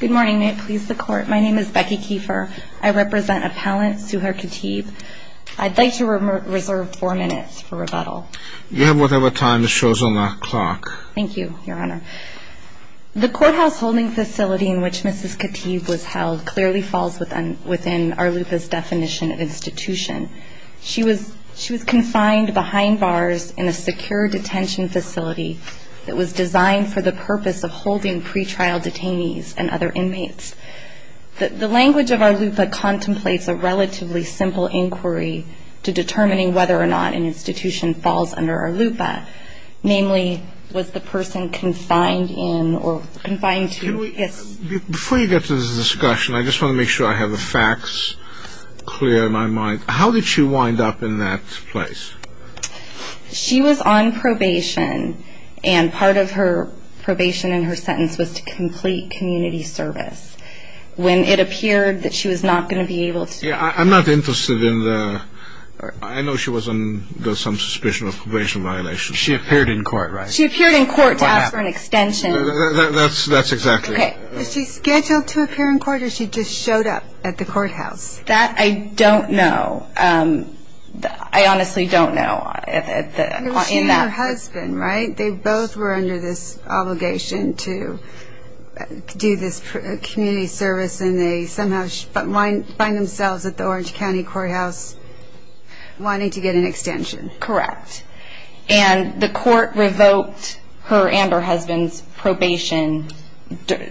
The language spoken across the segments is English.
Good morning, may it please the court. My name is Becky Kiefer. I represent Appellant Suhair Khatib. I'd like to reserve four minutes for rebuttal. You have whatever time that shows on the clock. Thank you, Your Honor. The courthouse holding facility in which Mrs. Khatib was held clearly falls within Arlupa's definition of institution. She was confined behind bars in a secure detention facility that was designed for the purpose of holding pre-trial detainees and other inmates. The language of Arlupa contemplates a relatively simple inquiry to determining whether or not an institution falls under Arlupa. Namely, was the person confined in or confined to... Before you get to the discussion, I just want to make sure I have the facts clear in my mind. How did she wind up in that place? She was on probation, and part of her probation in her sentence was to complete community service. When it appeared that she was not going to be able to... Yeah, I'm not interested in the... I know she was under some suspicion of probation violation. She appeared in court, right? She appeared in court to ask for an extension. That's exactly right. Was she scheduled to appear in court, or she just showed up at the courthouse? That I don't know. I honestly don't know. She and her husband, right? They both were under this obligation to do this community service, and they somehow find themselves at the Orange County Courthouse wanting to get an extension. Correct. And the court revoked her and her husband's probation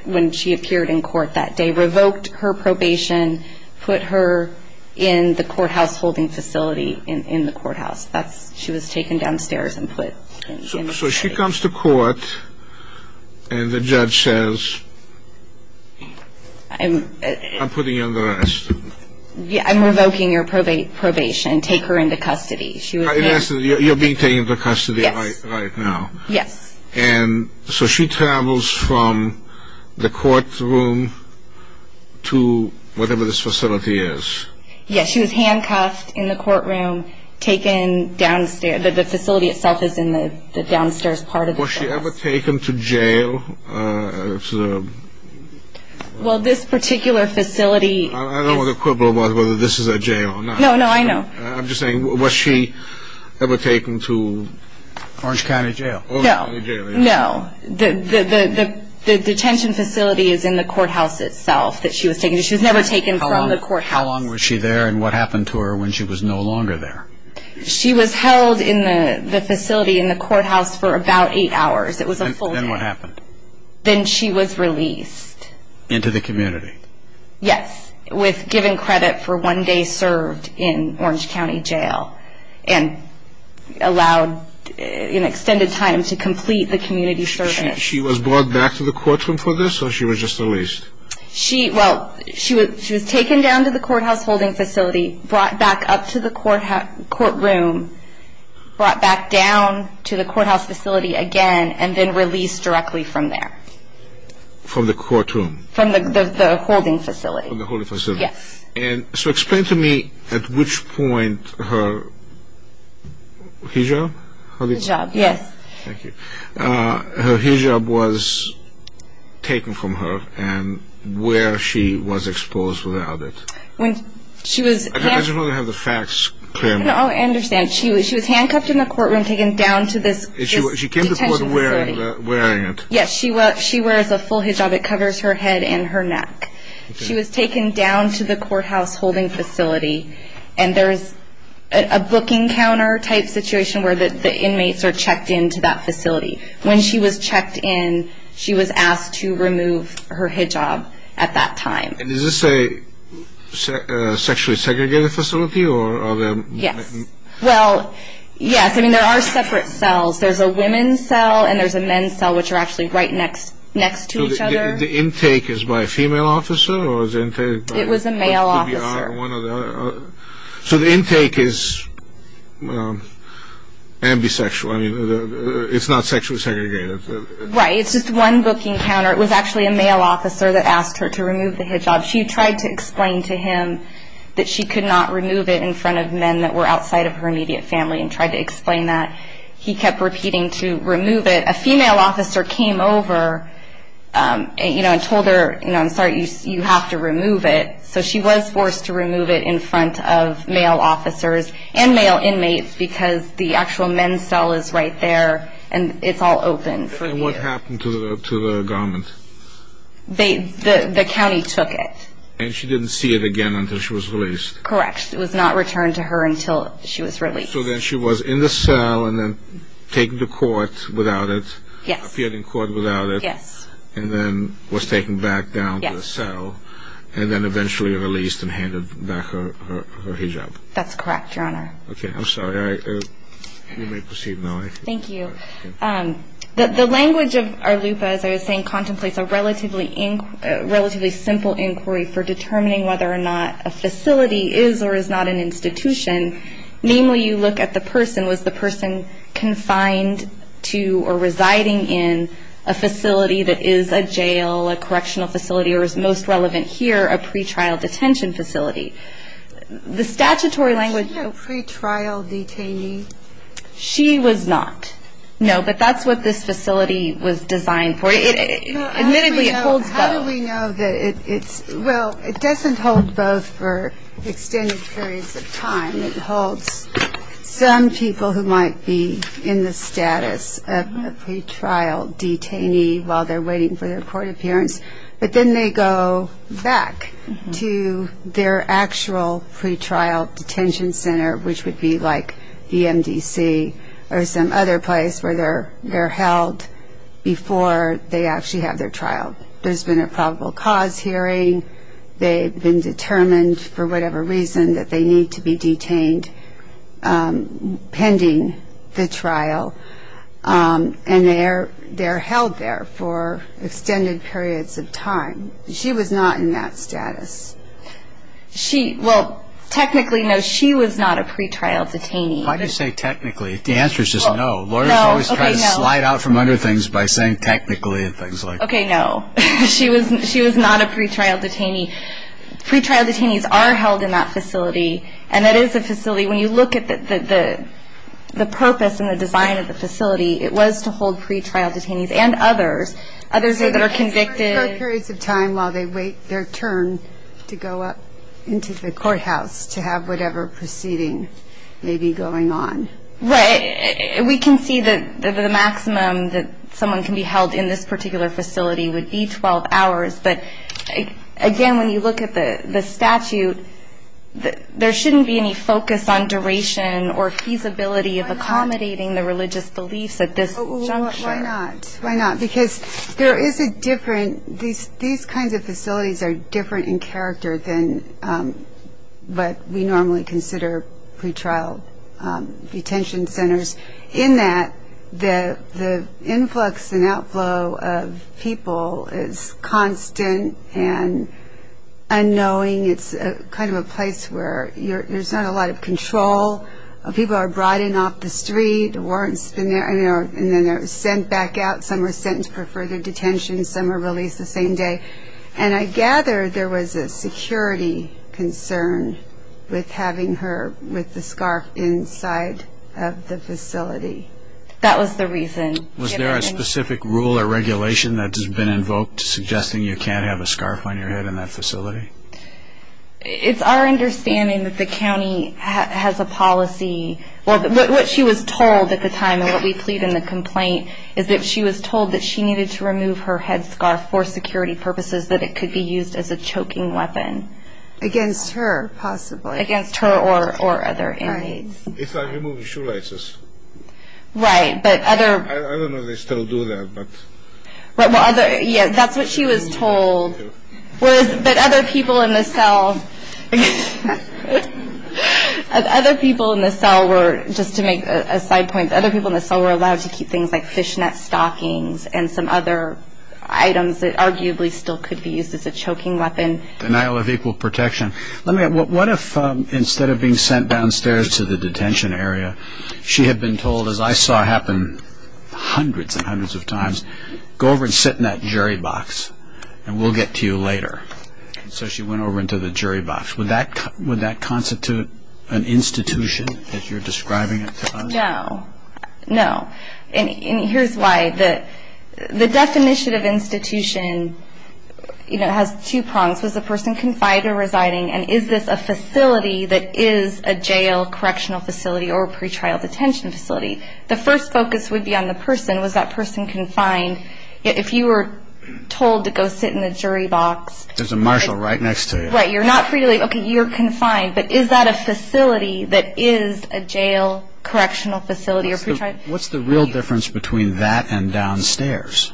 when she appeared in court that day, revoked her probation, put her in the courthouse holding facility in the courthouse. She was taken downstairs and put in custody. So she comes to court, and the judge says, I'm putting you under arrest. I'm revoking your probation. Take her into custody. You're being taken into custody right now. Yes. And so she travels from the courtroom to whatever this facility is. Yes, she was handcuffed in the courtroom, taken downstairs. The facility itself is in the downstairs part of the courthouse. Was she ever taken to jail? Well, this particular facility... I don't want to quibble about whether this is a jail or not. No, no, I know. I'm just saying, was she ever taken to Orange County Jail? No, no. The detention facility is in the courthouse itself that she was taken to. She was never taken from the courthouse. How long was she there, and what happened to her when she was no longer there? She was held in the facility in the courthouse for about eight hours. It was a full day. Then what happened? Then she was released. Into the community? Yes, with given credit for one day served in Orange County Jail and allowed an extended time to complete the community service. She was brought back to the courtroom for this, or she was just released? Well, she was taken down to the courthouse holding facility, brought back up to the courtroom, brought back down to the courthouse facility again, and then released directly from there. From the courtroom? From the holding facility. From the holding facility. Yes. So explain to me at which point her hijab? Hijab, yes. Thank you. Her hijab was taken from her, and where she was exposed without it? I just want to have the facts clear. No, I understand. She was handcuffed in the courtroom, taken down to this detention facility. She came to court wearing it. Yes, she wears a full hijab. It covers her head and her neck. She was taken down to the courthouse holding facility, and there is a booking counter type situation where the inmates are checked into that facility. When she was checked in, she was asked to remove her hijab at that time. Is this a sexually segregated facility? Yes. Well, yes. I mean, there are separate cells. There's a women's cell and there's a men's cell, which are actually right next to each other. So the intake is by a female officer? It was a male officer. So the intake is ambisexual. I mean, it's not sexually segregated. Right. It's just one booking counter. It was actually a male officer that asked her to remove the hijab. She tried to explain to him that she could not remove it in front of men that were outside of her immediate family and tried to explain that. He kept repeating to remove it. A female officer came over and told her, you know, I'm sorry, you have to remove it. So she was forced to remove it in front of male officers and male inmates because the actual men's cell is right there and it's all open. And what happened to the garment? The county took it. And she didn't see it again until she was released? Correct. It was not returned to her until she was released. So then she was in the cell and then taken to court without it. Yes. Appeared in court without it. Yes. And then was taken back down to the cell. Yes. And then eventually released and handed back her hijab. That's correct, Your Honor. Okay. I'm sorry. You may proceed now. Thank you. The language of ARLUPA, as I was saying, contemplates a relatively simple inquiry for determining whether or not a facility is or is not an institution. Namely, you look at the person. Was the person confined to or residing in a facility that is a jail, a correctional facility, or as most relevant here, a pretrial detention facility? The statutory language. Was she a pretrial detainee? She was not. No, but that's what this facility was designed for. Admittedly, it holds both. It holds some people who might be in the status of a pretrial detainee while they're waiting for their court appearance, but then they go back to their actual pretrial detention center, which would be like the MDC or some other place where they're held before they actually have their trial. There's been a probable cause hearing. They've been determined, for whatever reason, that they need to be detained pending the trial, and they're held there for extended periods of time. She was not in that status. Well, technically, no, she was not a pretrial detainee. Why did you say technically? The answer is just no. Lawyers always try to slide out from other things by saying technically and things like that. Okay, no. She was not a pretrial detainee. Pretrial detainees are held in that facility, and that is a facility. When you look at the purpose and the design of the facility, it was to hold pretrial detainees and others, others that are convicted. Short periods of time while they wait their turn to go up into the courthouse to have whatever proceeding may be going on. Right. We can see that the maximum that someone can be held in this particular facility would be 12 hours, but, again, when you look at the statute, there shouldn't be any focus on duration or feasibility of accommodating the religious beliefs at this juncture. Why not? Why not? Because there is a different these kinds of facilities are different in character than what we normally consider pretrial detention centers in that the influx and outflow of people is constant and unknowing. It's kind of a place where there's not a lot of control. People are brought in off the street. Warrants have been there, and then they're sent back out. Some are sentenced for further detention. Some are released the same day. And I gather there was a security concern with having her with the scarf inside of the facility. That was the reason. Was there a specific rule or regulation that has been invoked suggesting you can't have a scarf on your head in that facility? It's our understanding that the county has a policy. What she was told at the time and what we plead in the complaint is that she was told that she needed to remove her headscarf for security purposes, that it could be used as a choking weapon. Against her, possibly. Against her or other inmates. It's like removing shoelaces. Right, but other... I don't know if they still do that, but... Yeah, that's what she was told. But other people in the cell were, just to make a side point, other people in the cell were allowed to keep things like fishnet stockings and some other items that arguably still could be used as a choking weapon. Denial of equal protection. What if instead of being sent downstairs to the detention area, she had been told, as I saw happen hundreds and hundreds of times, go over and sit in that jury box, and we'll get to you later. So she went over into the jury box. Would that constitute an institution, as you're describing it to us? No. No. And here's why. The death initiative institution has two prongs. Was the person confined or residing? And is this a facility that is a jail correctional facility or a pretrial detention facility? The first focus would be on the person. Was that person confined? If you were told to go sit in the jury box... There's a marshal right next to you. Right, you're not free to leave. Okay, you're confined. But is that a facility that is a jail correctional facility or pretrial? What's the real difference between that and downstairs?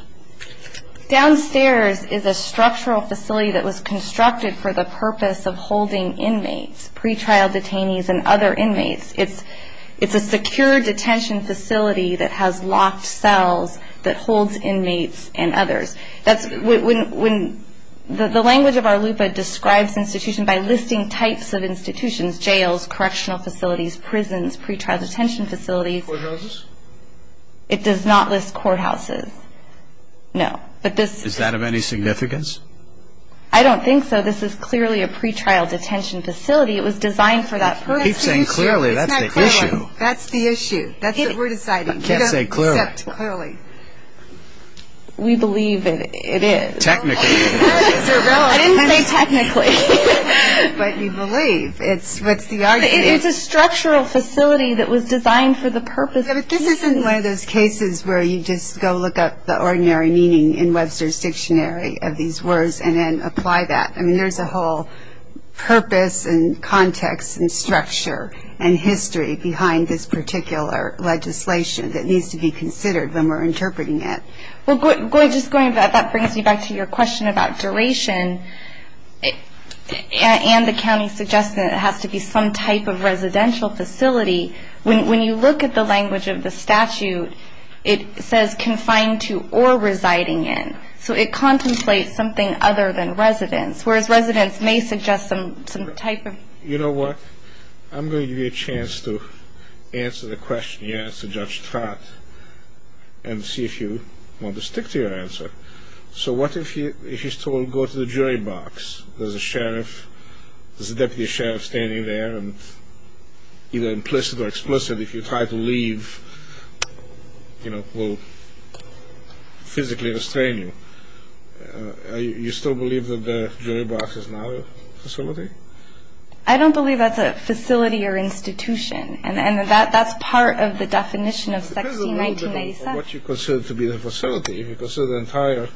Downstairs is a structural facility that was constructed for the purpose of holding inmates, pretrial detainees, and other inmates. It's a secure detention facility that has locked cells that holds inmates and others. The language of our LUPA describes institutions by listing types of institutions, jails, correctional facilities, prisons, pretrial detention facilities. Courthouses? It does not list courthouses. No. Is that of any significance? I don't think so. This is clearly a pretrial detention facility. It was designed for that purpose. You keep saying clearly. That's the issue. That's the issue. That's what we're deciding. You can't say clearly. Except clearly. We believe it is. Technically. I didn't say technically. But you believe. It's a structural facility that was designed for the purpose of holding inmates. This isn't one of those cases where you just go look up the ordinary meaning in Webster's Dictionary of these words and then apply that. I mean, there's a whole purpose and context and structure and history behind this particular legislation that needs to be considered when we're interpreting it. Well, just going back, that brings me back to your question about duration and the county's suggestion that it has to be some type of residential facility. When you look at the language of the statute, it says confined to or residing in. So it contemplates something other than residence, whereas residence may suggest some type of... You know what? I'm going to give you a chance to answer the question you asked Judge Trott and see if you want to stick to your answer. So what if you're told go to the jury box? There's a deputy sheriff standing there, and either implicit or explicit, if you try to leave, you know, will physically restrain you. I don't believe that's a facility or institution, and that's part of the definition of section 1997. It depends a little bit on what you consider to be the facility. If you consider the entire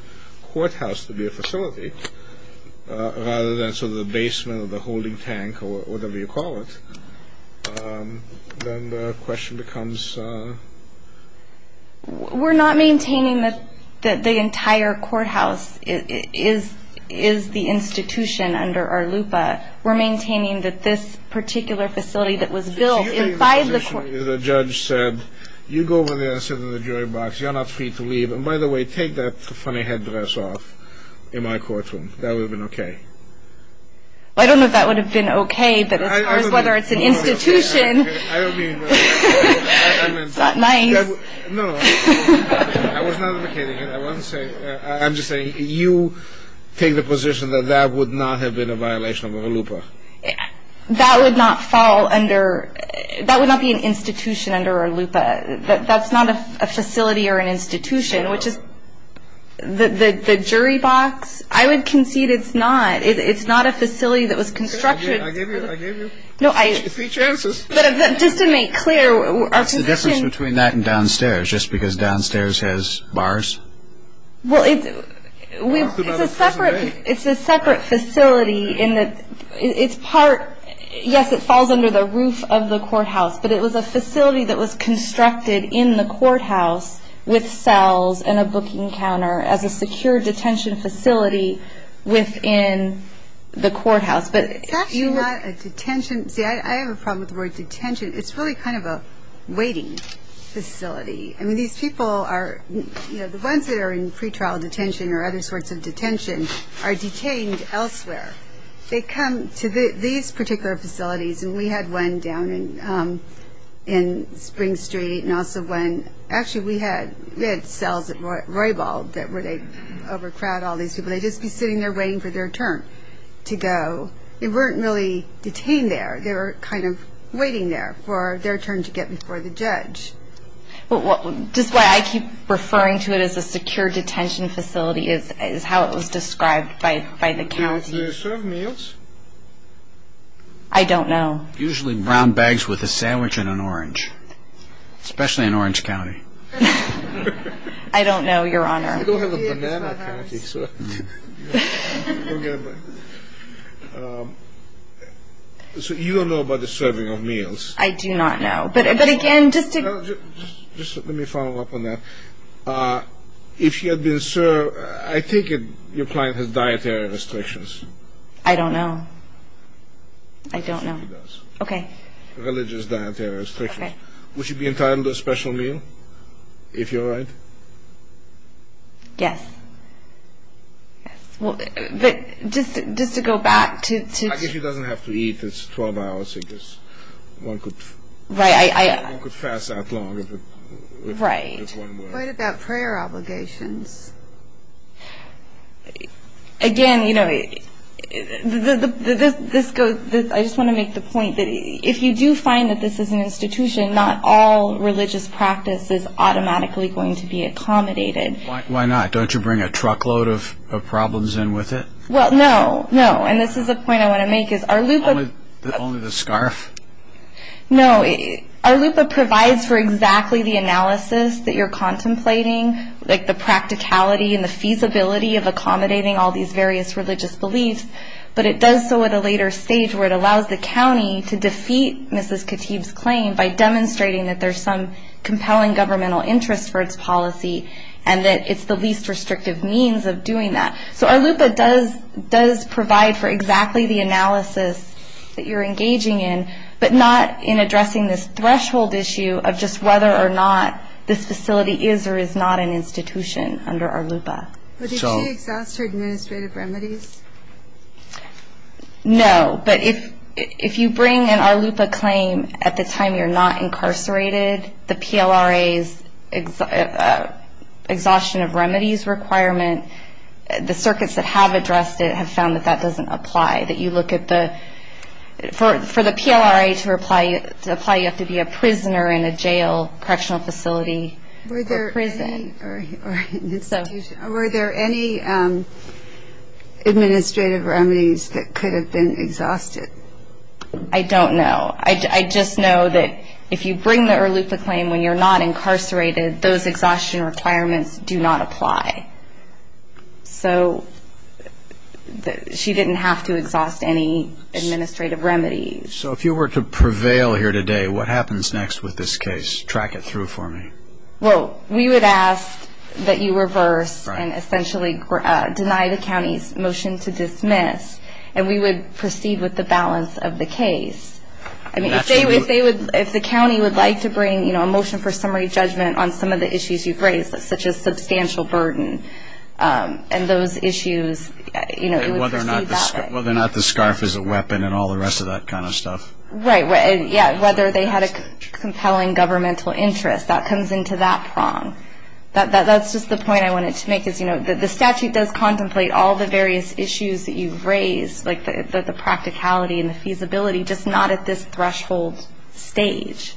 courthouse to be a facility rather than sort of the basement or the holding tank or whatever you call it, then the question becomes... We're not maintaining that the entire courthouse is the institution under our LUPA. We're maintaining that this particular facility that was built... The judge said you go over there and sit in the jury box. You're not free to leave. And by the way, take that funny headdress off in my courtroom. That would have been okay. I don't know if that would have been okay, but as far as whether it's an institution... I don't mean... It's not nice. No, no. I was not imitating it. I want to say... I'm just saying you take the position that that would not have been a violation of our LUPA. That would not fall under... That would not be an institution under our LUPA. That's not a facility or an institution, which is... The jury box, I would concede it's not. It's not a facility that was constructed. I gave you... No, I... Three chances. But just to make clear... What's the difference between that and downstairs, just because downstairs has bars? Well, it's... It's a separate facility in that it's part... Yes, it falls under the roof of the courthouse. But it was a facility that was constructed in the courthouse with cells and a booking counter as a secure detention facility within the courthouse. It's actually not a detention... See, I have a problem with the word detention. It's really kind of a waiting facility. I mean, these people are... You know, the ones that are in pretrial detention or other sorts of detention are detained elsewhere. They come to these particular facilities. And we had one down in Spring Street and also one... Actually, we had cells at Roybal where they overcrowd all these people. They'd just be sitting there waiting for their turn to go. They weren't really detained there. They were kind of waiting there for their turn to get before the judge. Just why I keep referring to it as a secure detention facility is how it was described by the county. Do they serve meals? I don't know. Usually brown bags with a sandwich and an orange, especially in Orange County. I don't know, Your Honor. We don't have a banana county, so... So you don't know about the serving of meals? I do not know. But again, just to... Just let me follow up on that. If you had been served... I think your client has dietary restrictions. I don't know. I don't know. She does. Okay. Religious dietary restrictions. Okay. Yes. Yes. Well, just to go back to... I guess she doesn't have to eat. It's a 12-hour sickness. One could... Right, I... One could fast that long. Right. What about prayer obligations? Again, you know, this goes... I just want to make the point that if you do find that this is an institution, not all religious practice is automatically going to be accommodated. Why not? Don't you bring a truckload of problems in with it? Well, no, no. And this is a point I want to make is our LUPA... Only the scarf? No. Our LUPA provides for exactly the analysis that you're contemplating, like the practicality and the feasibility of accommodating all these various religious beliefs. But it does so at a later stage where it allows the county to defeat Mrs. Khatib's claim by demonstrating that there's some compelling governmental interest for its policy and that it's the least restrictive means of doing that. So our LUPA does provide for exactly the analysis that you're engaging in, but not in addressing this threshold issue of just whether or not this facility is or is not an institution under our LUPA. But did she exhaust her administrative remedies? No, but if you bring an our LUPA claim at the time you're not incarcerated, the PLRA's exhaustion of remedies requirement, the circuits that have addressed it have found that that doesn't apply, that you look at the... For the PLRA to apply, you have to be a prisoner in a jail correctional facility or prison. Were there any administrative remedies that could have been exhausted? I don't know. I just know that if you bring the our LUPA claim when you're not incarcerated, those exhaustion requirements do not apply. So she didn't have to exhaust any administrative remedies. So if you were to prevail here today, what happens next with this case? Track it through for me. Well, we would ask that you reverse and essentially deny the county's motion to dismiss, and we would proceed with the balance of the case. If the county would like to bring a motion for summary judgment on some of the issues you've raised, such as substantial burden and those issues, it would proceed that way. Whether or not the scarf is a weapon and all the rest of that kind of stuff. Right, whether they had a compelling governmental interest. That comes into that prong. That's just the point I wanted to make, is the statute does contemplate all the various issues that you've raised, like the practicality and the feasibility, just not at this threshold stage.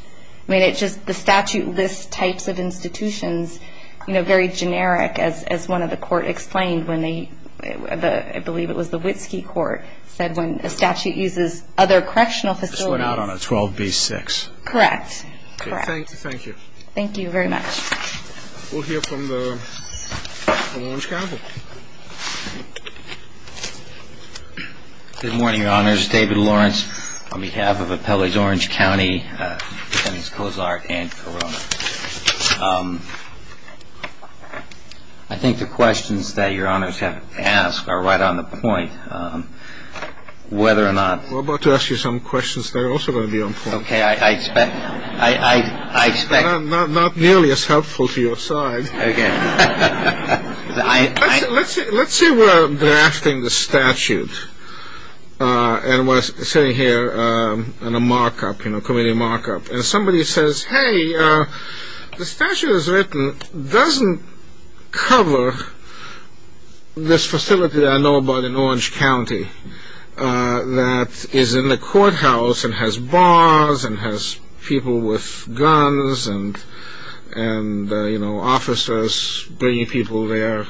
I mean, it's just the statute lists types of institutions very generic, as one of the court explained when they, I believe it was the Witski Court, said when a statute uses other correctional facilities. This went out on a 12B-6. Correct. Thank you. Thank you very much. We'll hear from the Orange Council. Good morning, Your Honors. David Lawrence on behalf of Appellees Orange County, Appendix Cozart, and Corona. I think the questions that Your Honors have asked are right on the point, whether or not. We're about to ask you some questions that are also going to be on point. Okay, I expect. Not nearly as helpful to your side. Okay. Let's say we're drafting the statute and we're sitting here in a markup, you know, committee markup, and somebody says, hey, the statute that's written doesn't cover this facility that I know about in Orange County that is in the courthouse and has bars and has people with guns and, you know, officers bringing people there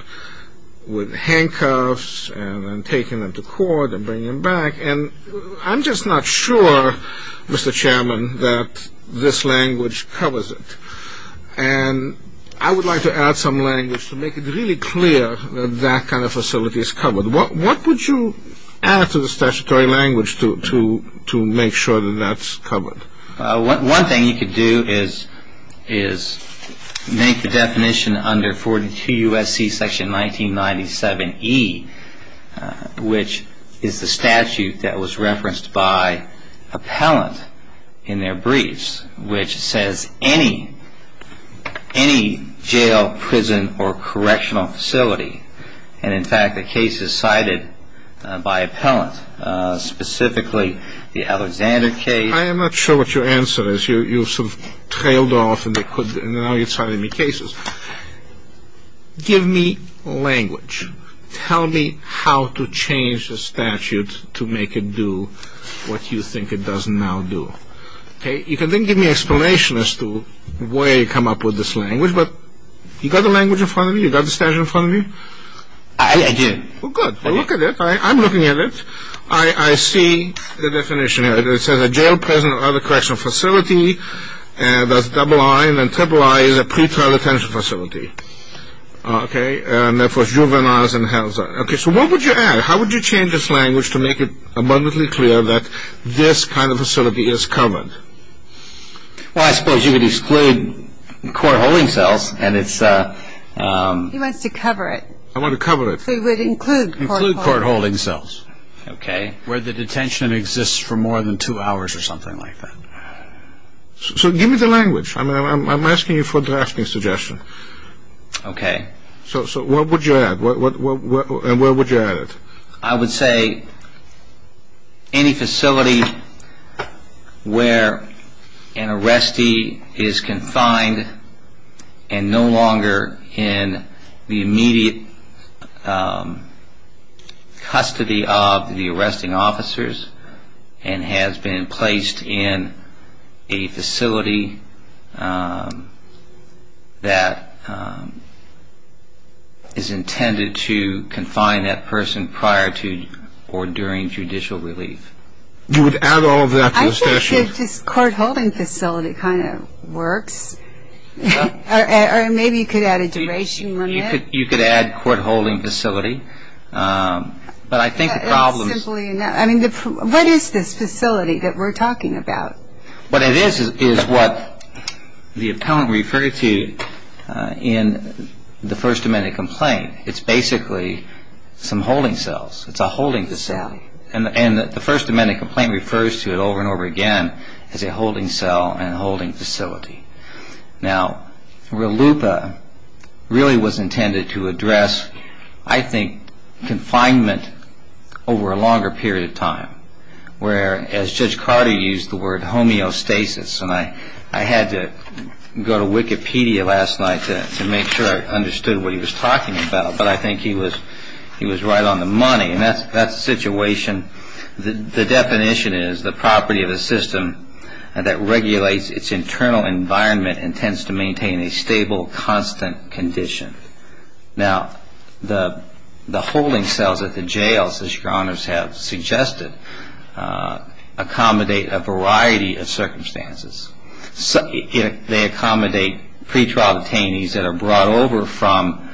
with handcuffs and taking them to court and bringing them back. And I'm just not sure, Mr. Chairman, that this language covers it. And I would like to add some language to make it really clear that that kind of facility is covered. What would you add to the statutory language to make sure that that's covered? One thing you could do is make the definition under 42 U.S.C. section 1997E, which is the statute that was referenced by appellant in their briefs, which says any jail, prison, or correctional facility, and in fact the case is cited by appellant, specifically the Alexander case. I am not sure what your answer is. You've sort of trailed off and now you're citing me cases. Give me language. Tell me how to change the statute to make it do what you think it does now do. Okay. You can then give me an explanation as to where you come up with this language, but you got the language in front of you? You got the statute in front of you? I did. Well, good. Well, look at it. I'm looking at it. I see the definition here. It says a jail, prison, or other correctional facility, and there's double I and then triple I is a pretrial detention facility. Okay. And therefore, juveniles and housing. Okay. So what would you add? How would you change this language to make it abundantly clear that this kind of facility is covered? Well, I suppose you could exclude court-holding cells and it's... He wants to cover it. I want to cover it. So you would include court-holding. Include court-holding cells, okay, where the detention exists for more than two hours or something like that. So give me the language. I'm asking you for a drafting suggestion. Okay. So what would you add? And where would you add it? I would say any facility where an arrestee is confined and no longer in the immediate custody of the arresting officers and has been placed in a facility that is intended to confine that person prior to or during judicial relief. You would add all of that to the statute? I think that this court-holding facility kind of works. Or maybe you could add a duration limit. You could add court-holding facility. But I think the problem is... What is this facility that we're talking about? What it is is what the appellant referred to in the First Amendment complaint. It's basically some holding cells. It's a holding facility. And the First Amendment complaint refers to it over and over again as a holding cell and a holding facility. Now, RLUIPA really was intended to address, I think, confinement over a longer period of time, where, as Judge Carter used the word, homeostasis. And I had to go to Wikipedia last night to make sure I understood what he was talking about. But I think he was right on the money. And that's the situation. The definition is the property of a system that regulates its internal environment and tends to maintain a stable, constant condition. Now, the holding cells at the jails, as Your Honors have suggested, accommodate a variety of circumstances. They accommodate pretrial detainees that are brought over from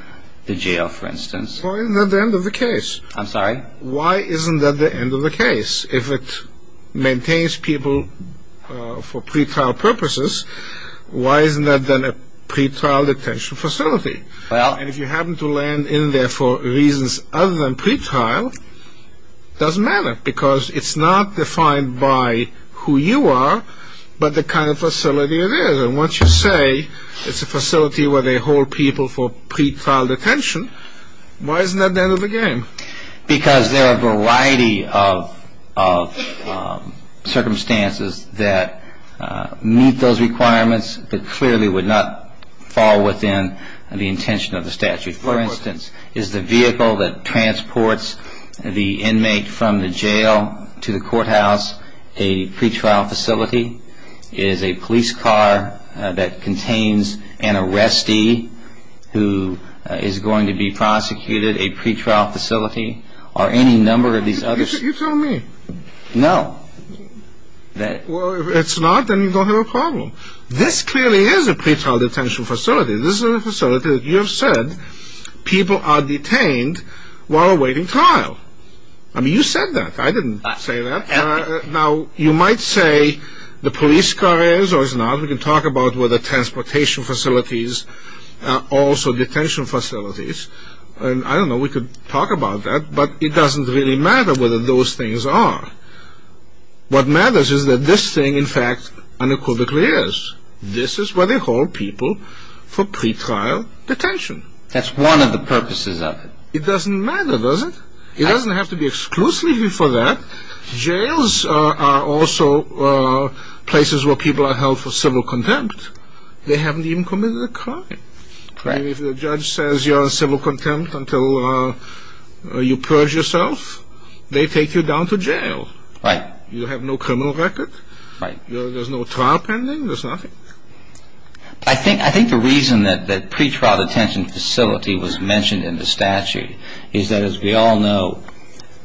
the jail, for instance. Why isn't that the end of the case? I'm sorry? Why isn't that the end of the case? If it maintains people for pretrial purposes, why isn't that then a pretrial detention facility? And if you happen to land in there for reasons other than pretrial, it doesn't matter, because it's not defined by who you are, but the kind of facility it is. And once you say it's a facility where they hold people for pretrial detention, why isn't that the end of the game? Because there are a variety of circumstances that meet those requirements that clearly would not fall within the intention of the statute. For instance, is the vehicle that transports the inmate from the jail to the courthouse a pretrial facility? Is a police car that contains an arrestee who is going to be prosecuted a pretrial facility? Are any number of these others? You tell me. No. Well, if it's not, then you don't have a problem. This clearly is a pretrial detention facility. This is a facility that you have said people are detained while awaiting trial. I mean, you said that. I didn't say that. Now, you might say the police car is or is not. We can talk about whether transportation facilities are also detention facilities. I don't know. We could talk about that, but it doesn't really matter whether those things are. What matters is that this thing, in fact, unequivocally is. This is where they hold people for pretrial detention. That's one of the purposes of it. It doesn't matter, does it? It doesn't have to be exclusively for that. Jails are also places where people are held for civil contempt. They haven't even committed a crime. If the judge says you're on civil contempt until you purge yourself, they take you down to jail. Right. You have no criminal record. Right. There's no trial pending. There's nothing. I think the reason that the pretrial detention facility was mentioned in the statute is that, as we all know,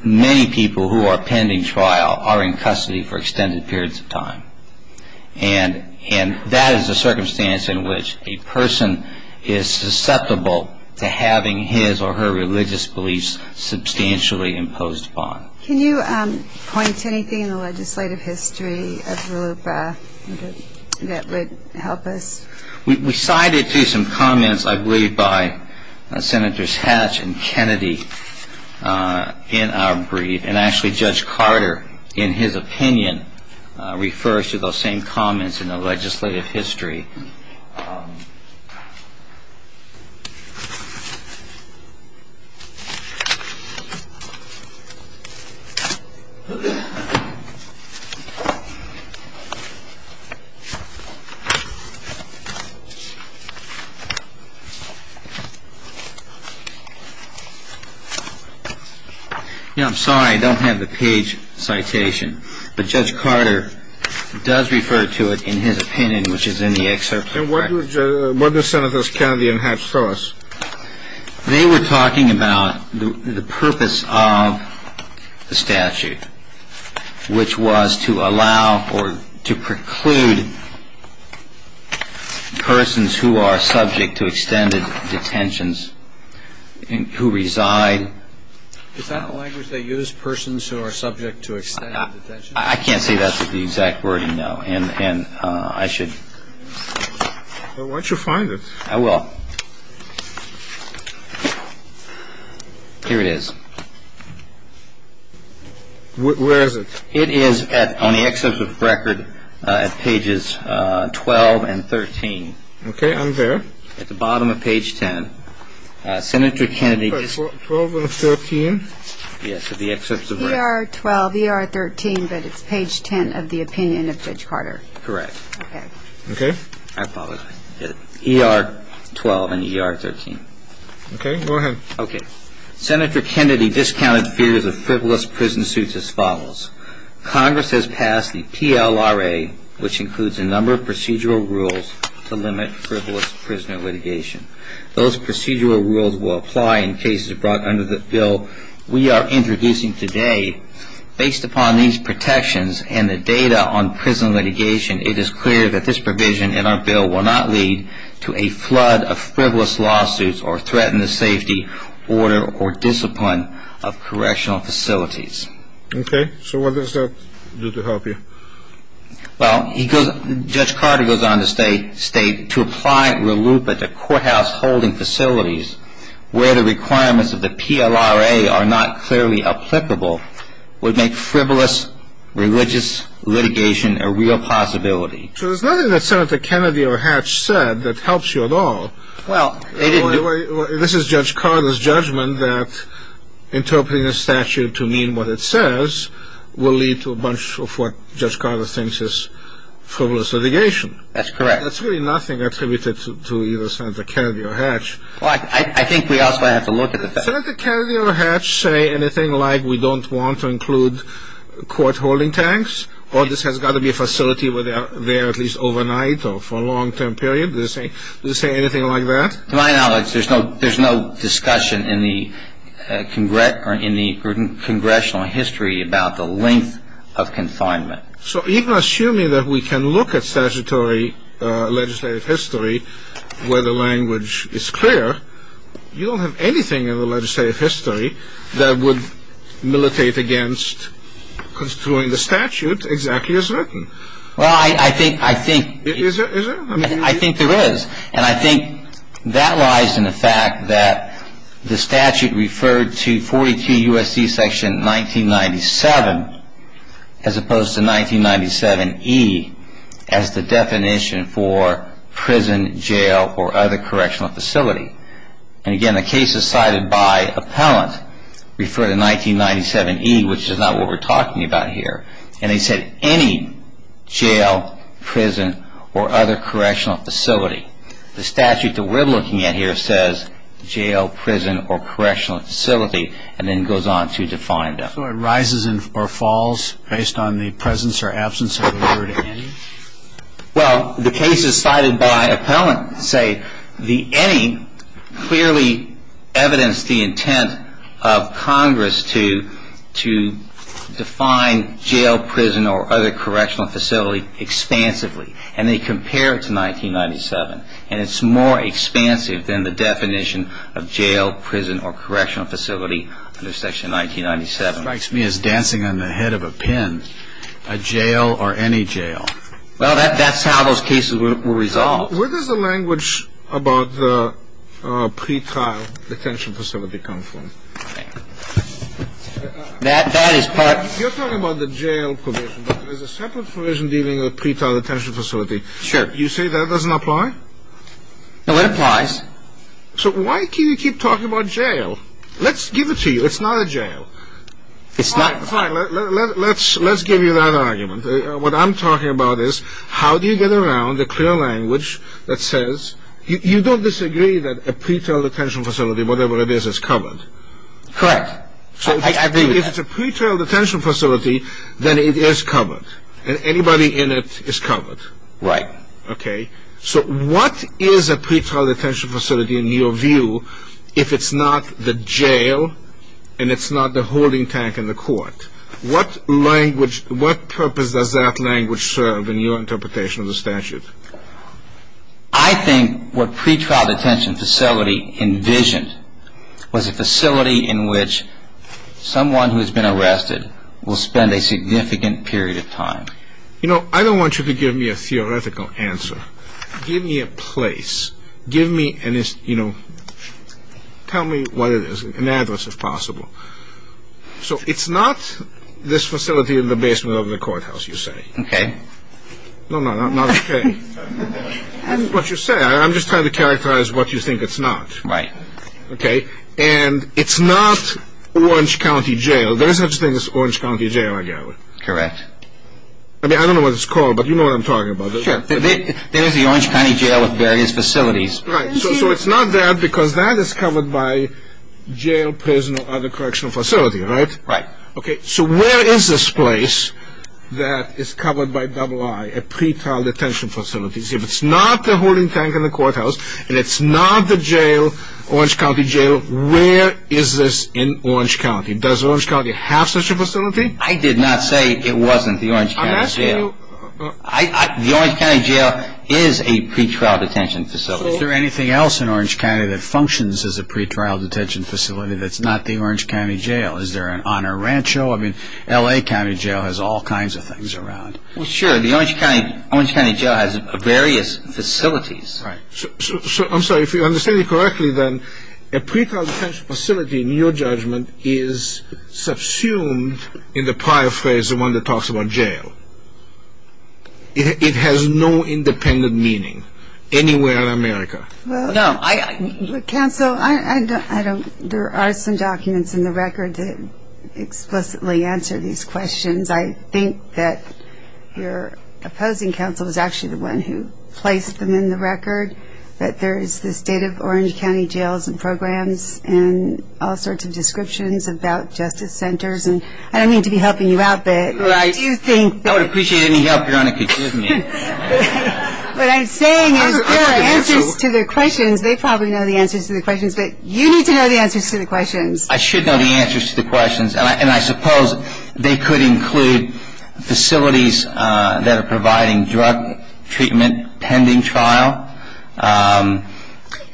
many people who are pending trial are in custody for extended periods of time. And that is a circumstance in which a person is susceptible to having his or her religious beliefs substantially imposed upon. Can you point to anything in the legislative history that would help us? We cited some comments, I believe, by Senators Hatch and Kennedy in our brief. And actually, Judge Carter, in his opinion, refers to those same comments in the legislative history. Now, I'm sorry I don't have the page citation, but Judge Carter does refer to it in his opinion, which is in the excerpt. And what do Senators Kennedy and Hatch tell us? They were talking about the purpose of the statute, which was to allow or to preclude persons who are subject to extended detentions who reside. Is that the language they use, persons who are subject to extended detentions? I can't say that's the exact wording, no. And I should. Why don't you find it? I will. Here it is. Where is it? It is on the excerpt of the record at pages 12 and 13. Okay, I'm there. At the bottom of page 10. 12 and 13. Yes, of the excerpts of record. ER 12, ER 13, but it's page 10 of the opinion of Judge Carter. Correct. Okay. Okay? I apologize. ER 12 and ER 13. Okay, go ahead. Okay. Senator Kennedy discounted fears of frivolous prison suits as follows. Congress has passed the PLRA, which includes a number of procedural rules to limit frivolous prisoner litigation. Those procedural rules will apply in cases brought under the bill we are introducing today. Based upon these protections and the data on prison litigation, it is clear that this provision in our bill will not lead to a flood of frivolous lawsuits or threaten the safety, order, or discipline of correctional facilities. Okay. So what does that do to help you? Well, Judge Carter goes on to state, to apply a loop at the courthouse holding facilities where the requirements of the PLRA are not clearly applicable would make frivolous religious litigation a real possibility. So there's nothing that Senator Kennedy or Hatch said that helps you at all. Well, they didn't do it. This is Judge Carter's judgment that interpreting a statute to mean what it says will lead to a bunch of what Judge Carter thinks is frivolous litigation. That's correct. That's really nothing attributed to either Senator Kennedy or Hatch. Well, I think we also have to look at the facts. Senator Kennedy or Hatch say anything like we don't want to include court holding tanks or this has got to be a facility where they are at least overnight or for a long-term period? Did they say anything like that? To my knowledge, there's no discussion in the congressional history about the length of confinement. So even assuming that we can look at statutory legislative history where the language is clear, you don't have anything in the legislative history that would militate against construing the statute exactly as written. Well, I think there is. And I think that lies in the fact that the statute referred to 42 U.S.C. section 1997 as opposed to 1997E as the definition for prison, jail, or other correctional facility. And again, the cases cited by appellant refer to 1997E, which is not what we're talking about here. And they said any jail, prison, or other correctional facility. The statute that we're looking at here says jail, prison, or correctional facility and then goes on to define them. So it rises or falls based on the presence or absence of the word any? Well, the cases cited by appellant say the any clearly evidenced the intent of Congress to define jail, prison, or other correctional facility expansively. And they compare it to 1997. And it's more expansive than the definition of jail, prison, or correctional facility under section 1997. It strikes me as dancing on the head of a pin. A jail or any jail. Well, that's how those cases were resolved. Where does the language about the pretrial detention facility come from? That is part. You're talking about the jail provision. There's a separate provision dealing with pretrial detention facility. Sure. You say that doesn't apply? No, it applies. So why do you keep talking about jail? Let's give it to you. It's not a jail. It's not. Fine. Let's give you that argument. What I'm talking about is how do you get around the clear language that says you don't disagree that a pretrial detention facility, whatever it is, is covered. Correct. I agree with that. So if it's a pretrial detention facility, then it is covered. And anybody in it is covered. Right. Okay. So what is a pretrial detention facility in your view if it's not the jail and it's not the holding tank in the court? What language, what purpose does that language serve in your interpretation of the statute? I think what pretrial detention facility envisioned was a facility in which someone who has been arrested will spend a significant period of time. You know, I don't want you to give me a theoretical answer. Give me a place. Give me, you know, tell me what it is, an address if possible. So it's not this facility in the basement of the courthouse, you say. Okay. No, no, not okay. That's what you say. I'm just trying to characterize what you think it's not. Right. Okay. And it's not Orange County Jail. There is such a thing as Orange County Jail, I gather. Correct. I mean, I don't know what it's called, but you know what I'm talking about. Sure. There is the Orange County Jail with various facilities. Right. So it's not there because that is covered by jail, prison, or other correctional facility, right? Right. Okay. So where is this place that is covered by double I, a pretrial detention facility? If it's not the holding tank in the courthouse and it's not the jail, Orange County Jail, where is this in Orange County? Does Orange County have such a facility? I did not say it wasn't the Orange County Jail. The Orange County Jail is a pretrial detention facility. Is there anything else in Orange County that functions as a pretrial detention facility that's not the Orange County Jail? Is there an honor rancho? I mean, L.A. County Jail has all kinds of things around. Well, sure. The Orange County Jail has various facilities. Right. I'm sorry. If you understand me correctly, then a pretrial detention facility, in your judgment, is subsumed in the prior phrase, the one that talks about jail. It has no independent meaning anywhere in America. Well, no. Counsel, there are some documents in the record that explicitly answer these questions. I think that your opposing counsel is actually the one who placed them in the record, that there is the state of Orange County Jails and programs and all sorts of descriptions about justice centers. And I don't mean to be helping you out, but I do think that. Right. I would appreciate any help Your Honor could give me. What I'm saying is there are answers to the questions. They probably know the answers to the questions, but you need to know the answers to the questions. I should know the answers to the questions. And I suppose they could include facilities that are providing drug treatment pending trial.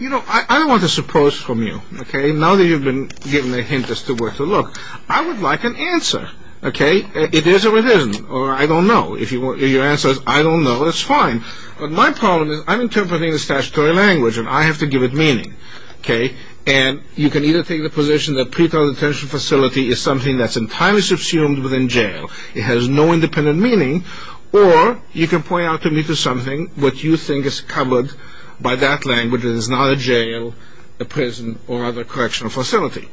You know, I don't want to suppose from you, okay, now that you've been given a hint as to where to look, I would like an answer. Okay. It is or it isn't. Or I don't know. If your answer is I don't know, that's fine. But my problem is I'm interpreting the statutory language and I have to give it meaning. Okay. And you can either take the position that pretrial detention facility is something that's entirely subsumed within jail, it has no independent meaning, or you can point out to me to something what you think is covered by that language and is not a jail, a prison, or other correctional facility.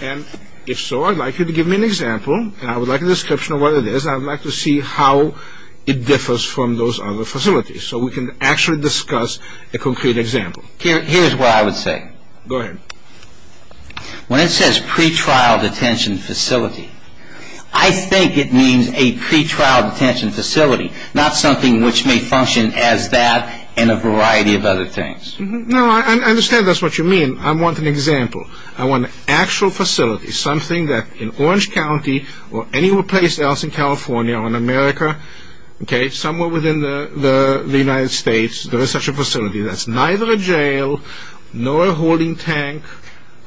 And if so, I'd like you to give me an example and I would like a description of what it is and I'd like to see how it differs from those other facilities so we can actually discuss a concrete example. Here's what I would say. Go ahead. When it says pretrial detention facility, I think it means a pretrial detention facility, not something which may function as that and a variety of other things. No, I understand that's what you mean. I want an example. I want an actual facility, something that in Orange County or anywhere else in California or in America, that's neither a jail nor a holding tank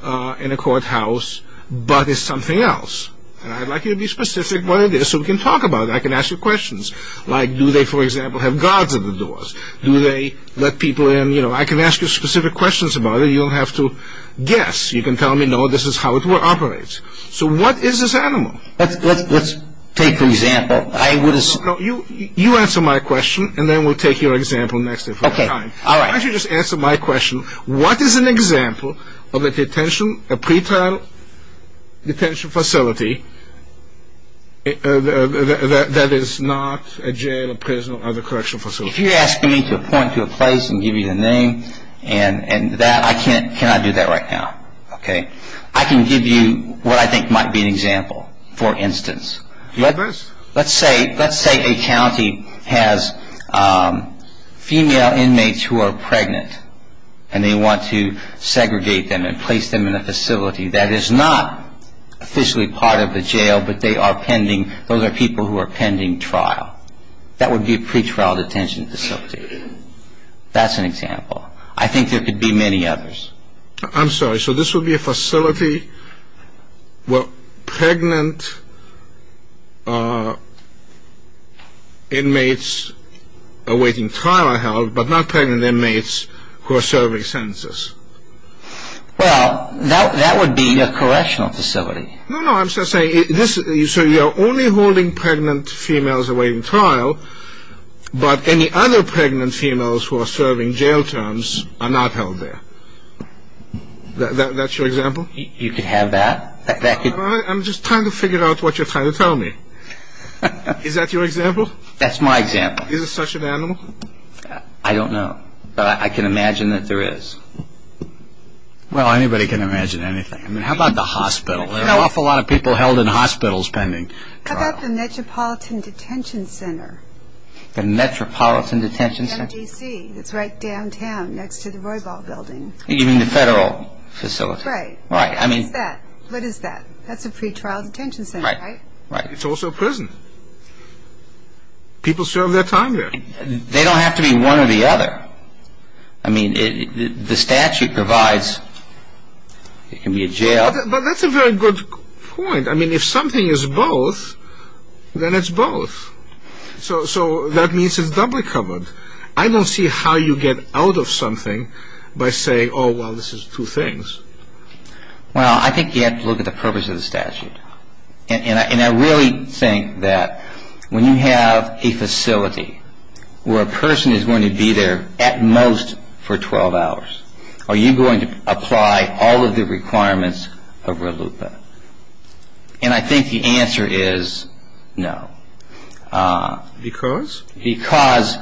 in a courthouse, but it's something else. And I'd like you to be specific what it is so we can talk about it. I can ask you questions like, do they, for example, have guards at the doors? Do they let people in? You know, I can ask you specific questions about it. You don't have to guess. You can tell me, no, this is how it operates. So what is this animal? Let's take an example. You answer my question and then we'll take your example next time. Okay, all right. Why don't you just answer my question. What is an example of a pretrial detention facility that is not a jail, a prison, or other correctional facility? If you're asking me to point to a place and give you the name and that, I cannot do that right now. I can give you what I think might be an example, for instance. Let's say a county has female inmates who are pregnant and they want to segregate them and place them in a facility that is not officially part of the jail, but they are pending, those are people who are pending trial. That would be a pretrial detention facility. That's an example. I think there could be many others. I'm sorry, so this would be a facility where pregnant inmates awaiting trial are held, but not pregnant inmates who are serving sentences. Well, that would be a correctional facility. No, no, I'm just saying, so you're only holding pregnant females awaiting trial, but any other pregnant females who are serving jail terms are not held there. That's your example? You could have that. I'm just trying to figure out what you're trying to tell me. Is that your example? That's my example. Is it such an animal? I don't know, but I can imagine that there is. Well, anybody can imagine anything. I mean, how about the hospital? There are an awful lot of people held in hospitals pending trial. How about the Metropolitan Detention Center? The Metropolitan Detention Center? MDC. It's right downtown next to the Roybal Building. You mean the federal facility? Right. What is that? That's a pretrial detention center, right? Right. It's also a prison. People serve their time there. They don't have to be one or the other. I mean, the statute provides it can be a jail. But that's a very good point. I mean, if something is both, then it's both. So that means it's doubly covered. I don't see how you get out of something by saying, oh, well, this is two things. Well, I think you have to look at the purpose of the statute. And I really think that when you have a facility where a person is going to be there at most for 12 hours, are you going to apply all of the requirements of RLUIPA? And I think the answer is no. Because? Because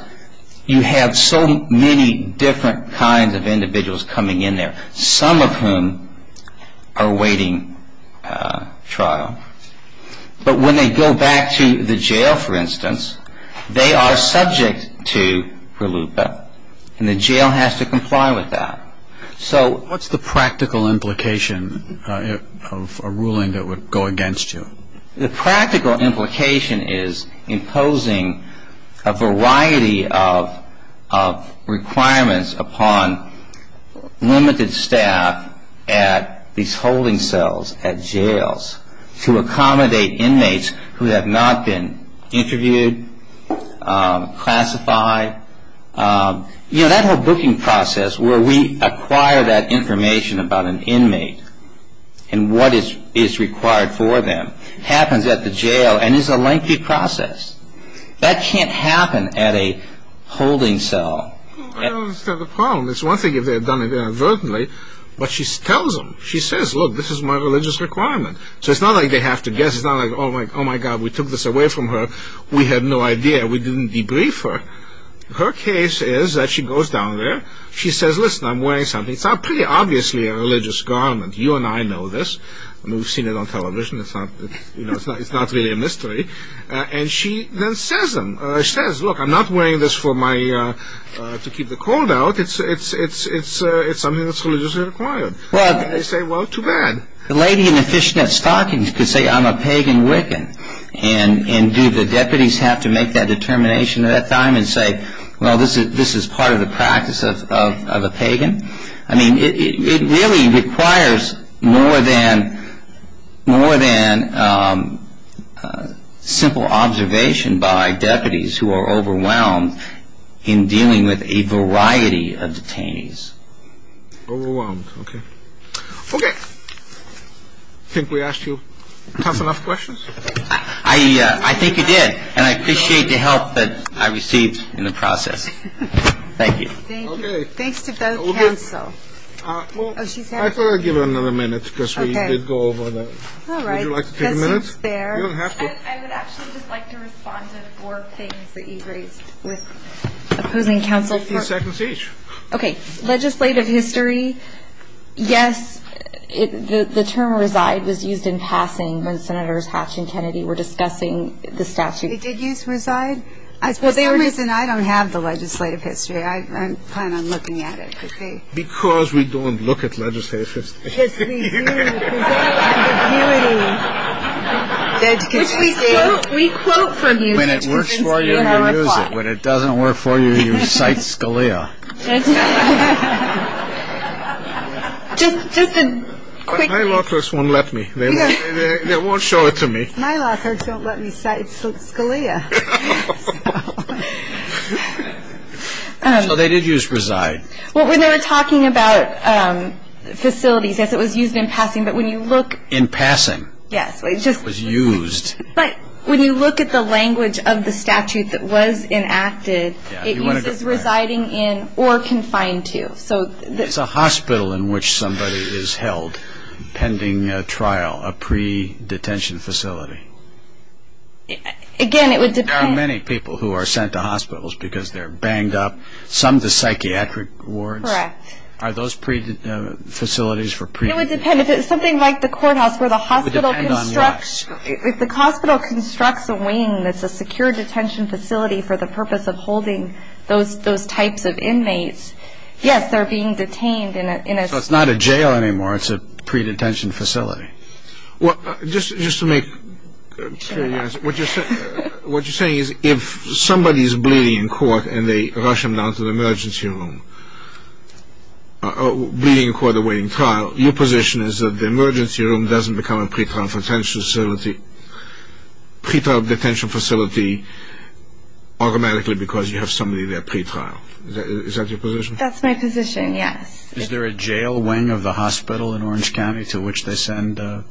you have so many different kinds of individuals coming in there, some of whom are awaiting trial. But when they go back to the jail, for instance, they are subject to RLUIPA, and the jail has to comply with that. What's the practical implication of a ruling that would go against you? The practical implication is imposing a variety of requirements upon limited staff at these holding cells, to accommodate inmates who have not been interviewed, classified. You know, that whole booking process where we acquire that information about an inmate and what is required for them happens at the jail and is a lengthy process. That can't happen at a holding cell. I don't understand the problem. It's one thing if they have done it inadvertently, but she tells them. She says, look, this is my religious requirement. So it's not like they have to guess. It's not like, oh, my God, we took this away from her. We had no idea. We didn't debrief her. Her case is that she goes down there. She says, listen, I'm wearing something. It's pretty obviously a religious garment. You and I know this. I mean, we've seen it on television. It's not really a mystery. And she then says, look, I'm not wearing this to keep the cold out. It's something that's religiously required. They say, well, too bad. The lady in the fishnet stockings could say, I'm a pagan Wiccan, and do the deputies have to make that determination at that time and say, well, this is part of the practice of a pagan? I mean, it really requires more than simple observation by deputies who are overwhelmed in dealing with a variety of detainees. Overwhelmed. Okay. Okay. I think we asked you tough enough questions. I think you did, and I appreciate the help that I received in the process. Thank you. Thanks to both counsel. I thought I'd give her another minute because we did go over that. Would you like to take a minute? I would actually just like to respond to four things that you raised with opposing counsel. Fifteen seconds each. Okay. Legislative history, yes, the term reside was used in passing when Senators Hatch and Kennedy were discussing the statute. It did use reside. The reason I don't have the legislative history, I plan on looking at it to see. Because we don't look at legislative history. Because we do. Because we don't have the beauty. Which we quote from you. When it works for you, you use it. When it doesn't work for you, you cite Scalia. Just a quick. My law clerks won't let me. They won't show it to me. My law clerks don't let me cite Scalia. So they did use reside. Well, when they were talking about facilities, yes, it was used in passing. But when you look. In passing. Yes. It was used. But when you look at the language of the statute that was enacted, it uses residing in or confined to. It's a hospital in which somebody is held pending a trial, a pre-detention facility. Again, it would depend. There are many people who are sent to hospitals because they're banged up. Some to psychiatric wards. Correct. Are those facilities for pre-detention? It would depend. If it's something like the courthouse where the hospital constructs a wing that's a secure detention facility for the purpose of holding those types of inmates, yes, they're being detained in a... So it's not a jail anymore. It's a pre-detention facility. Just to make clear your answer. What you're saying is if somebody is bleeding in court and they rush them down to the emergency room, bleeding in court awaiting trial, your position is that the emergency room doesn't become a pre-trial detention facility. Pre-trial detention facility automatically because you have somebody there pre-trial. Is that your position? That's my position, yes. Is there a jail wing of the hospital in Orange County to which they send pre-trial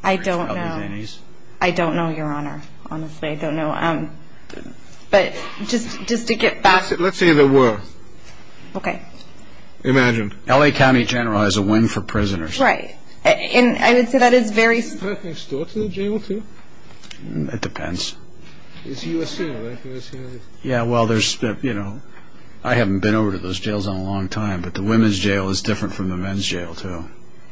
detainees? I don't know. I don't know, Your Honor. Honestly, I don't know. But just to get back... Let's say there were. Okay. Imagine. Right. And I would say that is very... Is there anything stored in the jail, too? It depends. It's USC, right? Yeah, well, there's... I haven't been over to those jails in a long time, but the women's jail is different from the men's jail, too.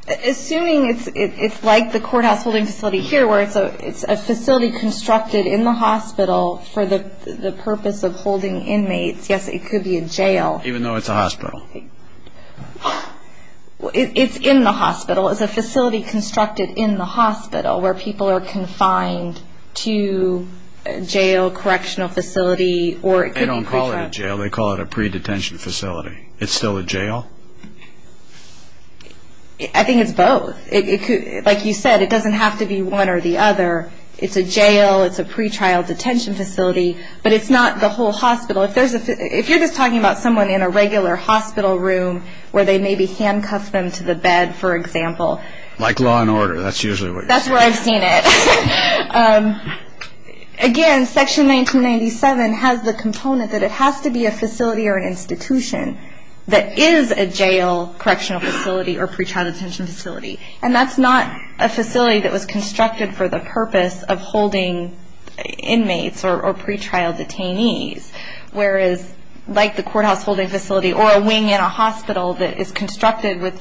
Assuming it's like the courthouse holding facility here where it's a facility constructed in the hospital for the purpose of holding inmates, yes, it could be a jail. Even though it's a hospital. It's in the hospital. It's a facility constructed in the hospital where people are confined to jail, correctional facility, or it could be... They don't call it a jail. They call it a pre-detention facility. It's still a jail? I think it's both. Like you said, it doesn't have to be one or the other. It's a jail. It's a pre-trial detention facility. But it's not the whole hospital. If you're just talking about someone in a regular hospital room where they maybe handcuff them to the bed, for example... Like law and order. That's usually what you're saying. That's where I've seen it. Again, Section 1997 has the component that it has to be a facility or an institution that is a jail, correctional facility, or pre-trial detention facility. And that's not a facility that was constructed for the purpose of holding inmates or pre-trial detainees. Whereas, like the courthouse holding facility or a wing in a hospital that is constructed with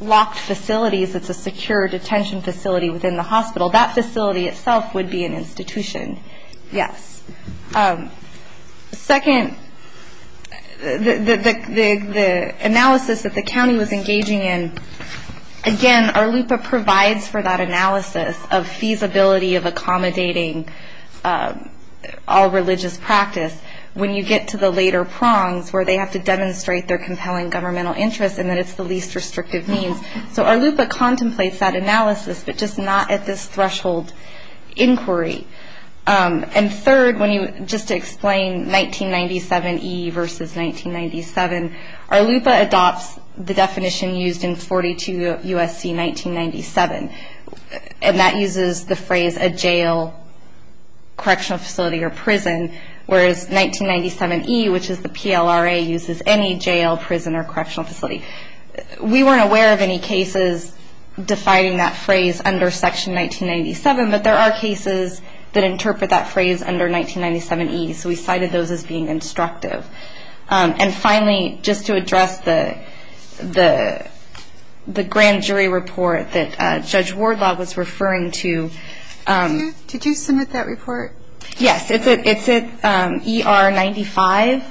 locked facilities, it's a secure detention facility within the hospital. That facility itself would be an institution. Yes. Second, the analysis that the county was engaging in... Again, our LUPA provides for that analysis of feasibility of accommodating all religious practice. When you get to the later prongs, where they have to demonstrate their compelling governmental interests and that it's the least restrictive means. So, our LUPA contemplates that analysis, but just not at this threshold inquiry. And third, just to explain 1997E versus 1997, our LUPA adopts the definition used in 42 U.S.C. 1997. And that uses the phrase, a jail, correctional facility, or prison. Whereas, 1997E, which is the PLRA, uses any jail, prison, or correctional facility. We weren't aware of any cases defining that phrase under section 1997, but there are cases that interpret that phrase under 1997E. So, we cited those as being instructive. And finally, just to address the grand jury report that Judge Wardlaw was referring to... Did you submit that report? Yes, it's at ER 95.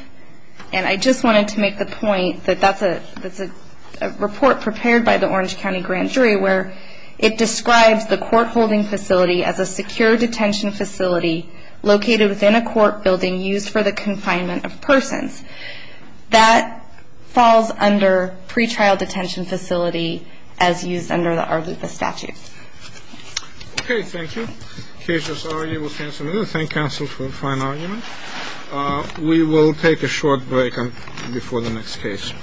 And I just wanted to make the point that that's a report prepared by the Orange County Grand Jury, where it describes the court holding facility as a secure detention facility located within a court building used for the confinement of persons. That falls under pretrial detention facility, as used under our LUPA statute. Okay, thank you. The case has already been canceled. Thank counsel for a fine argument. We will take a short break before the next case.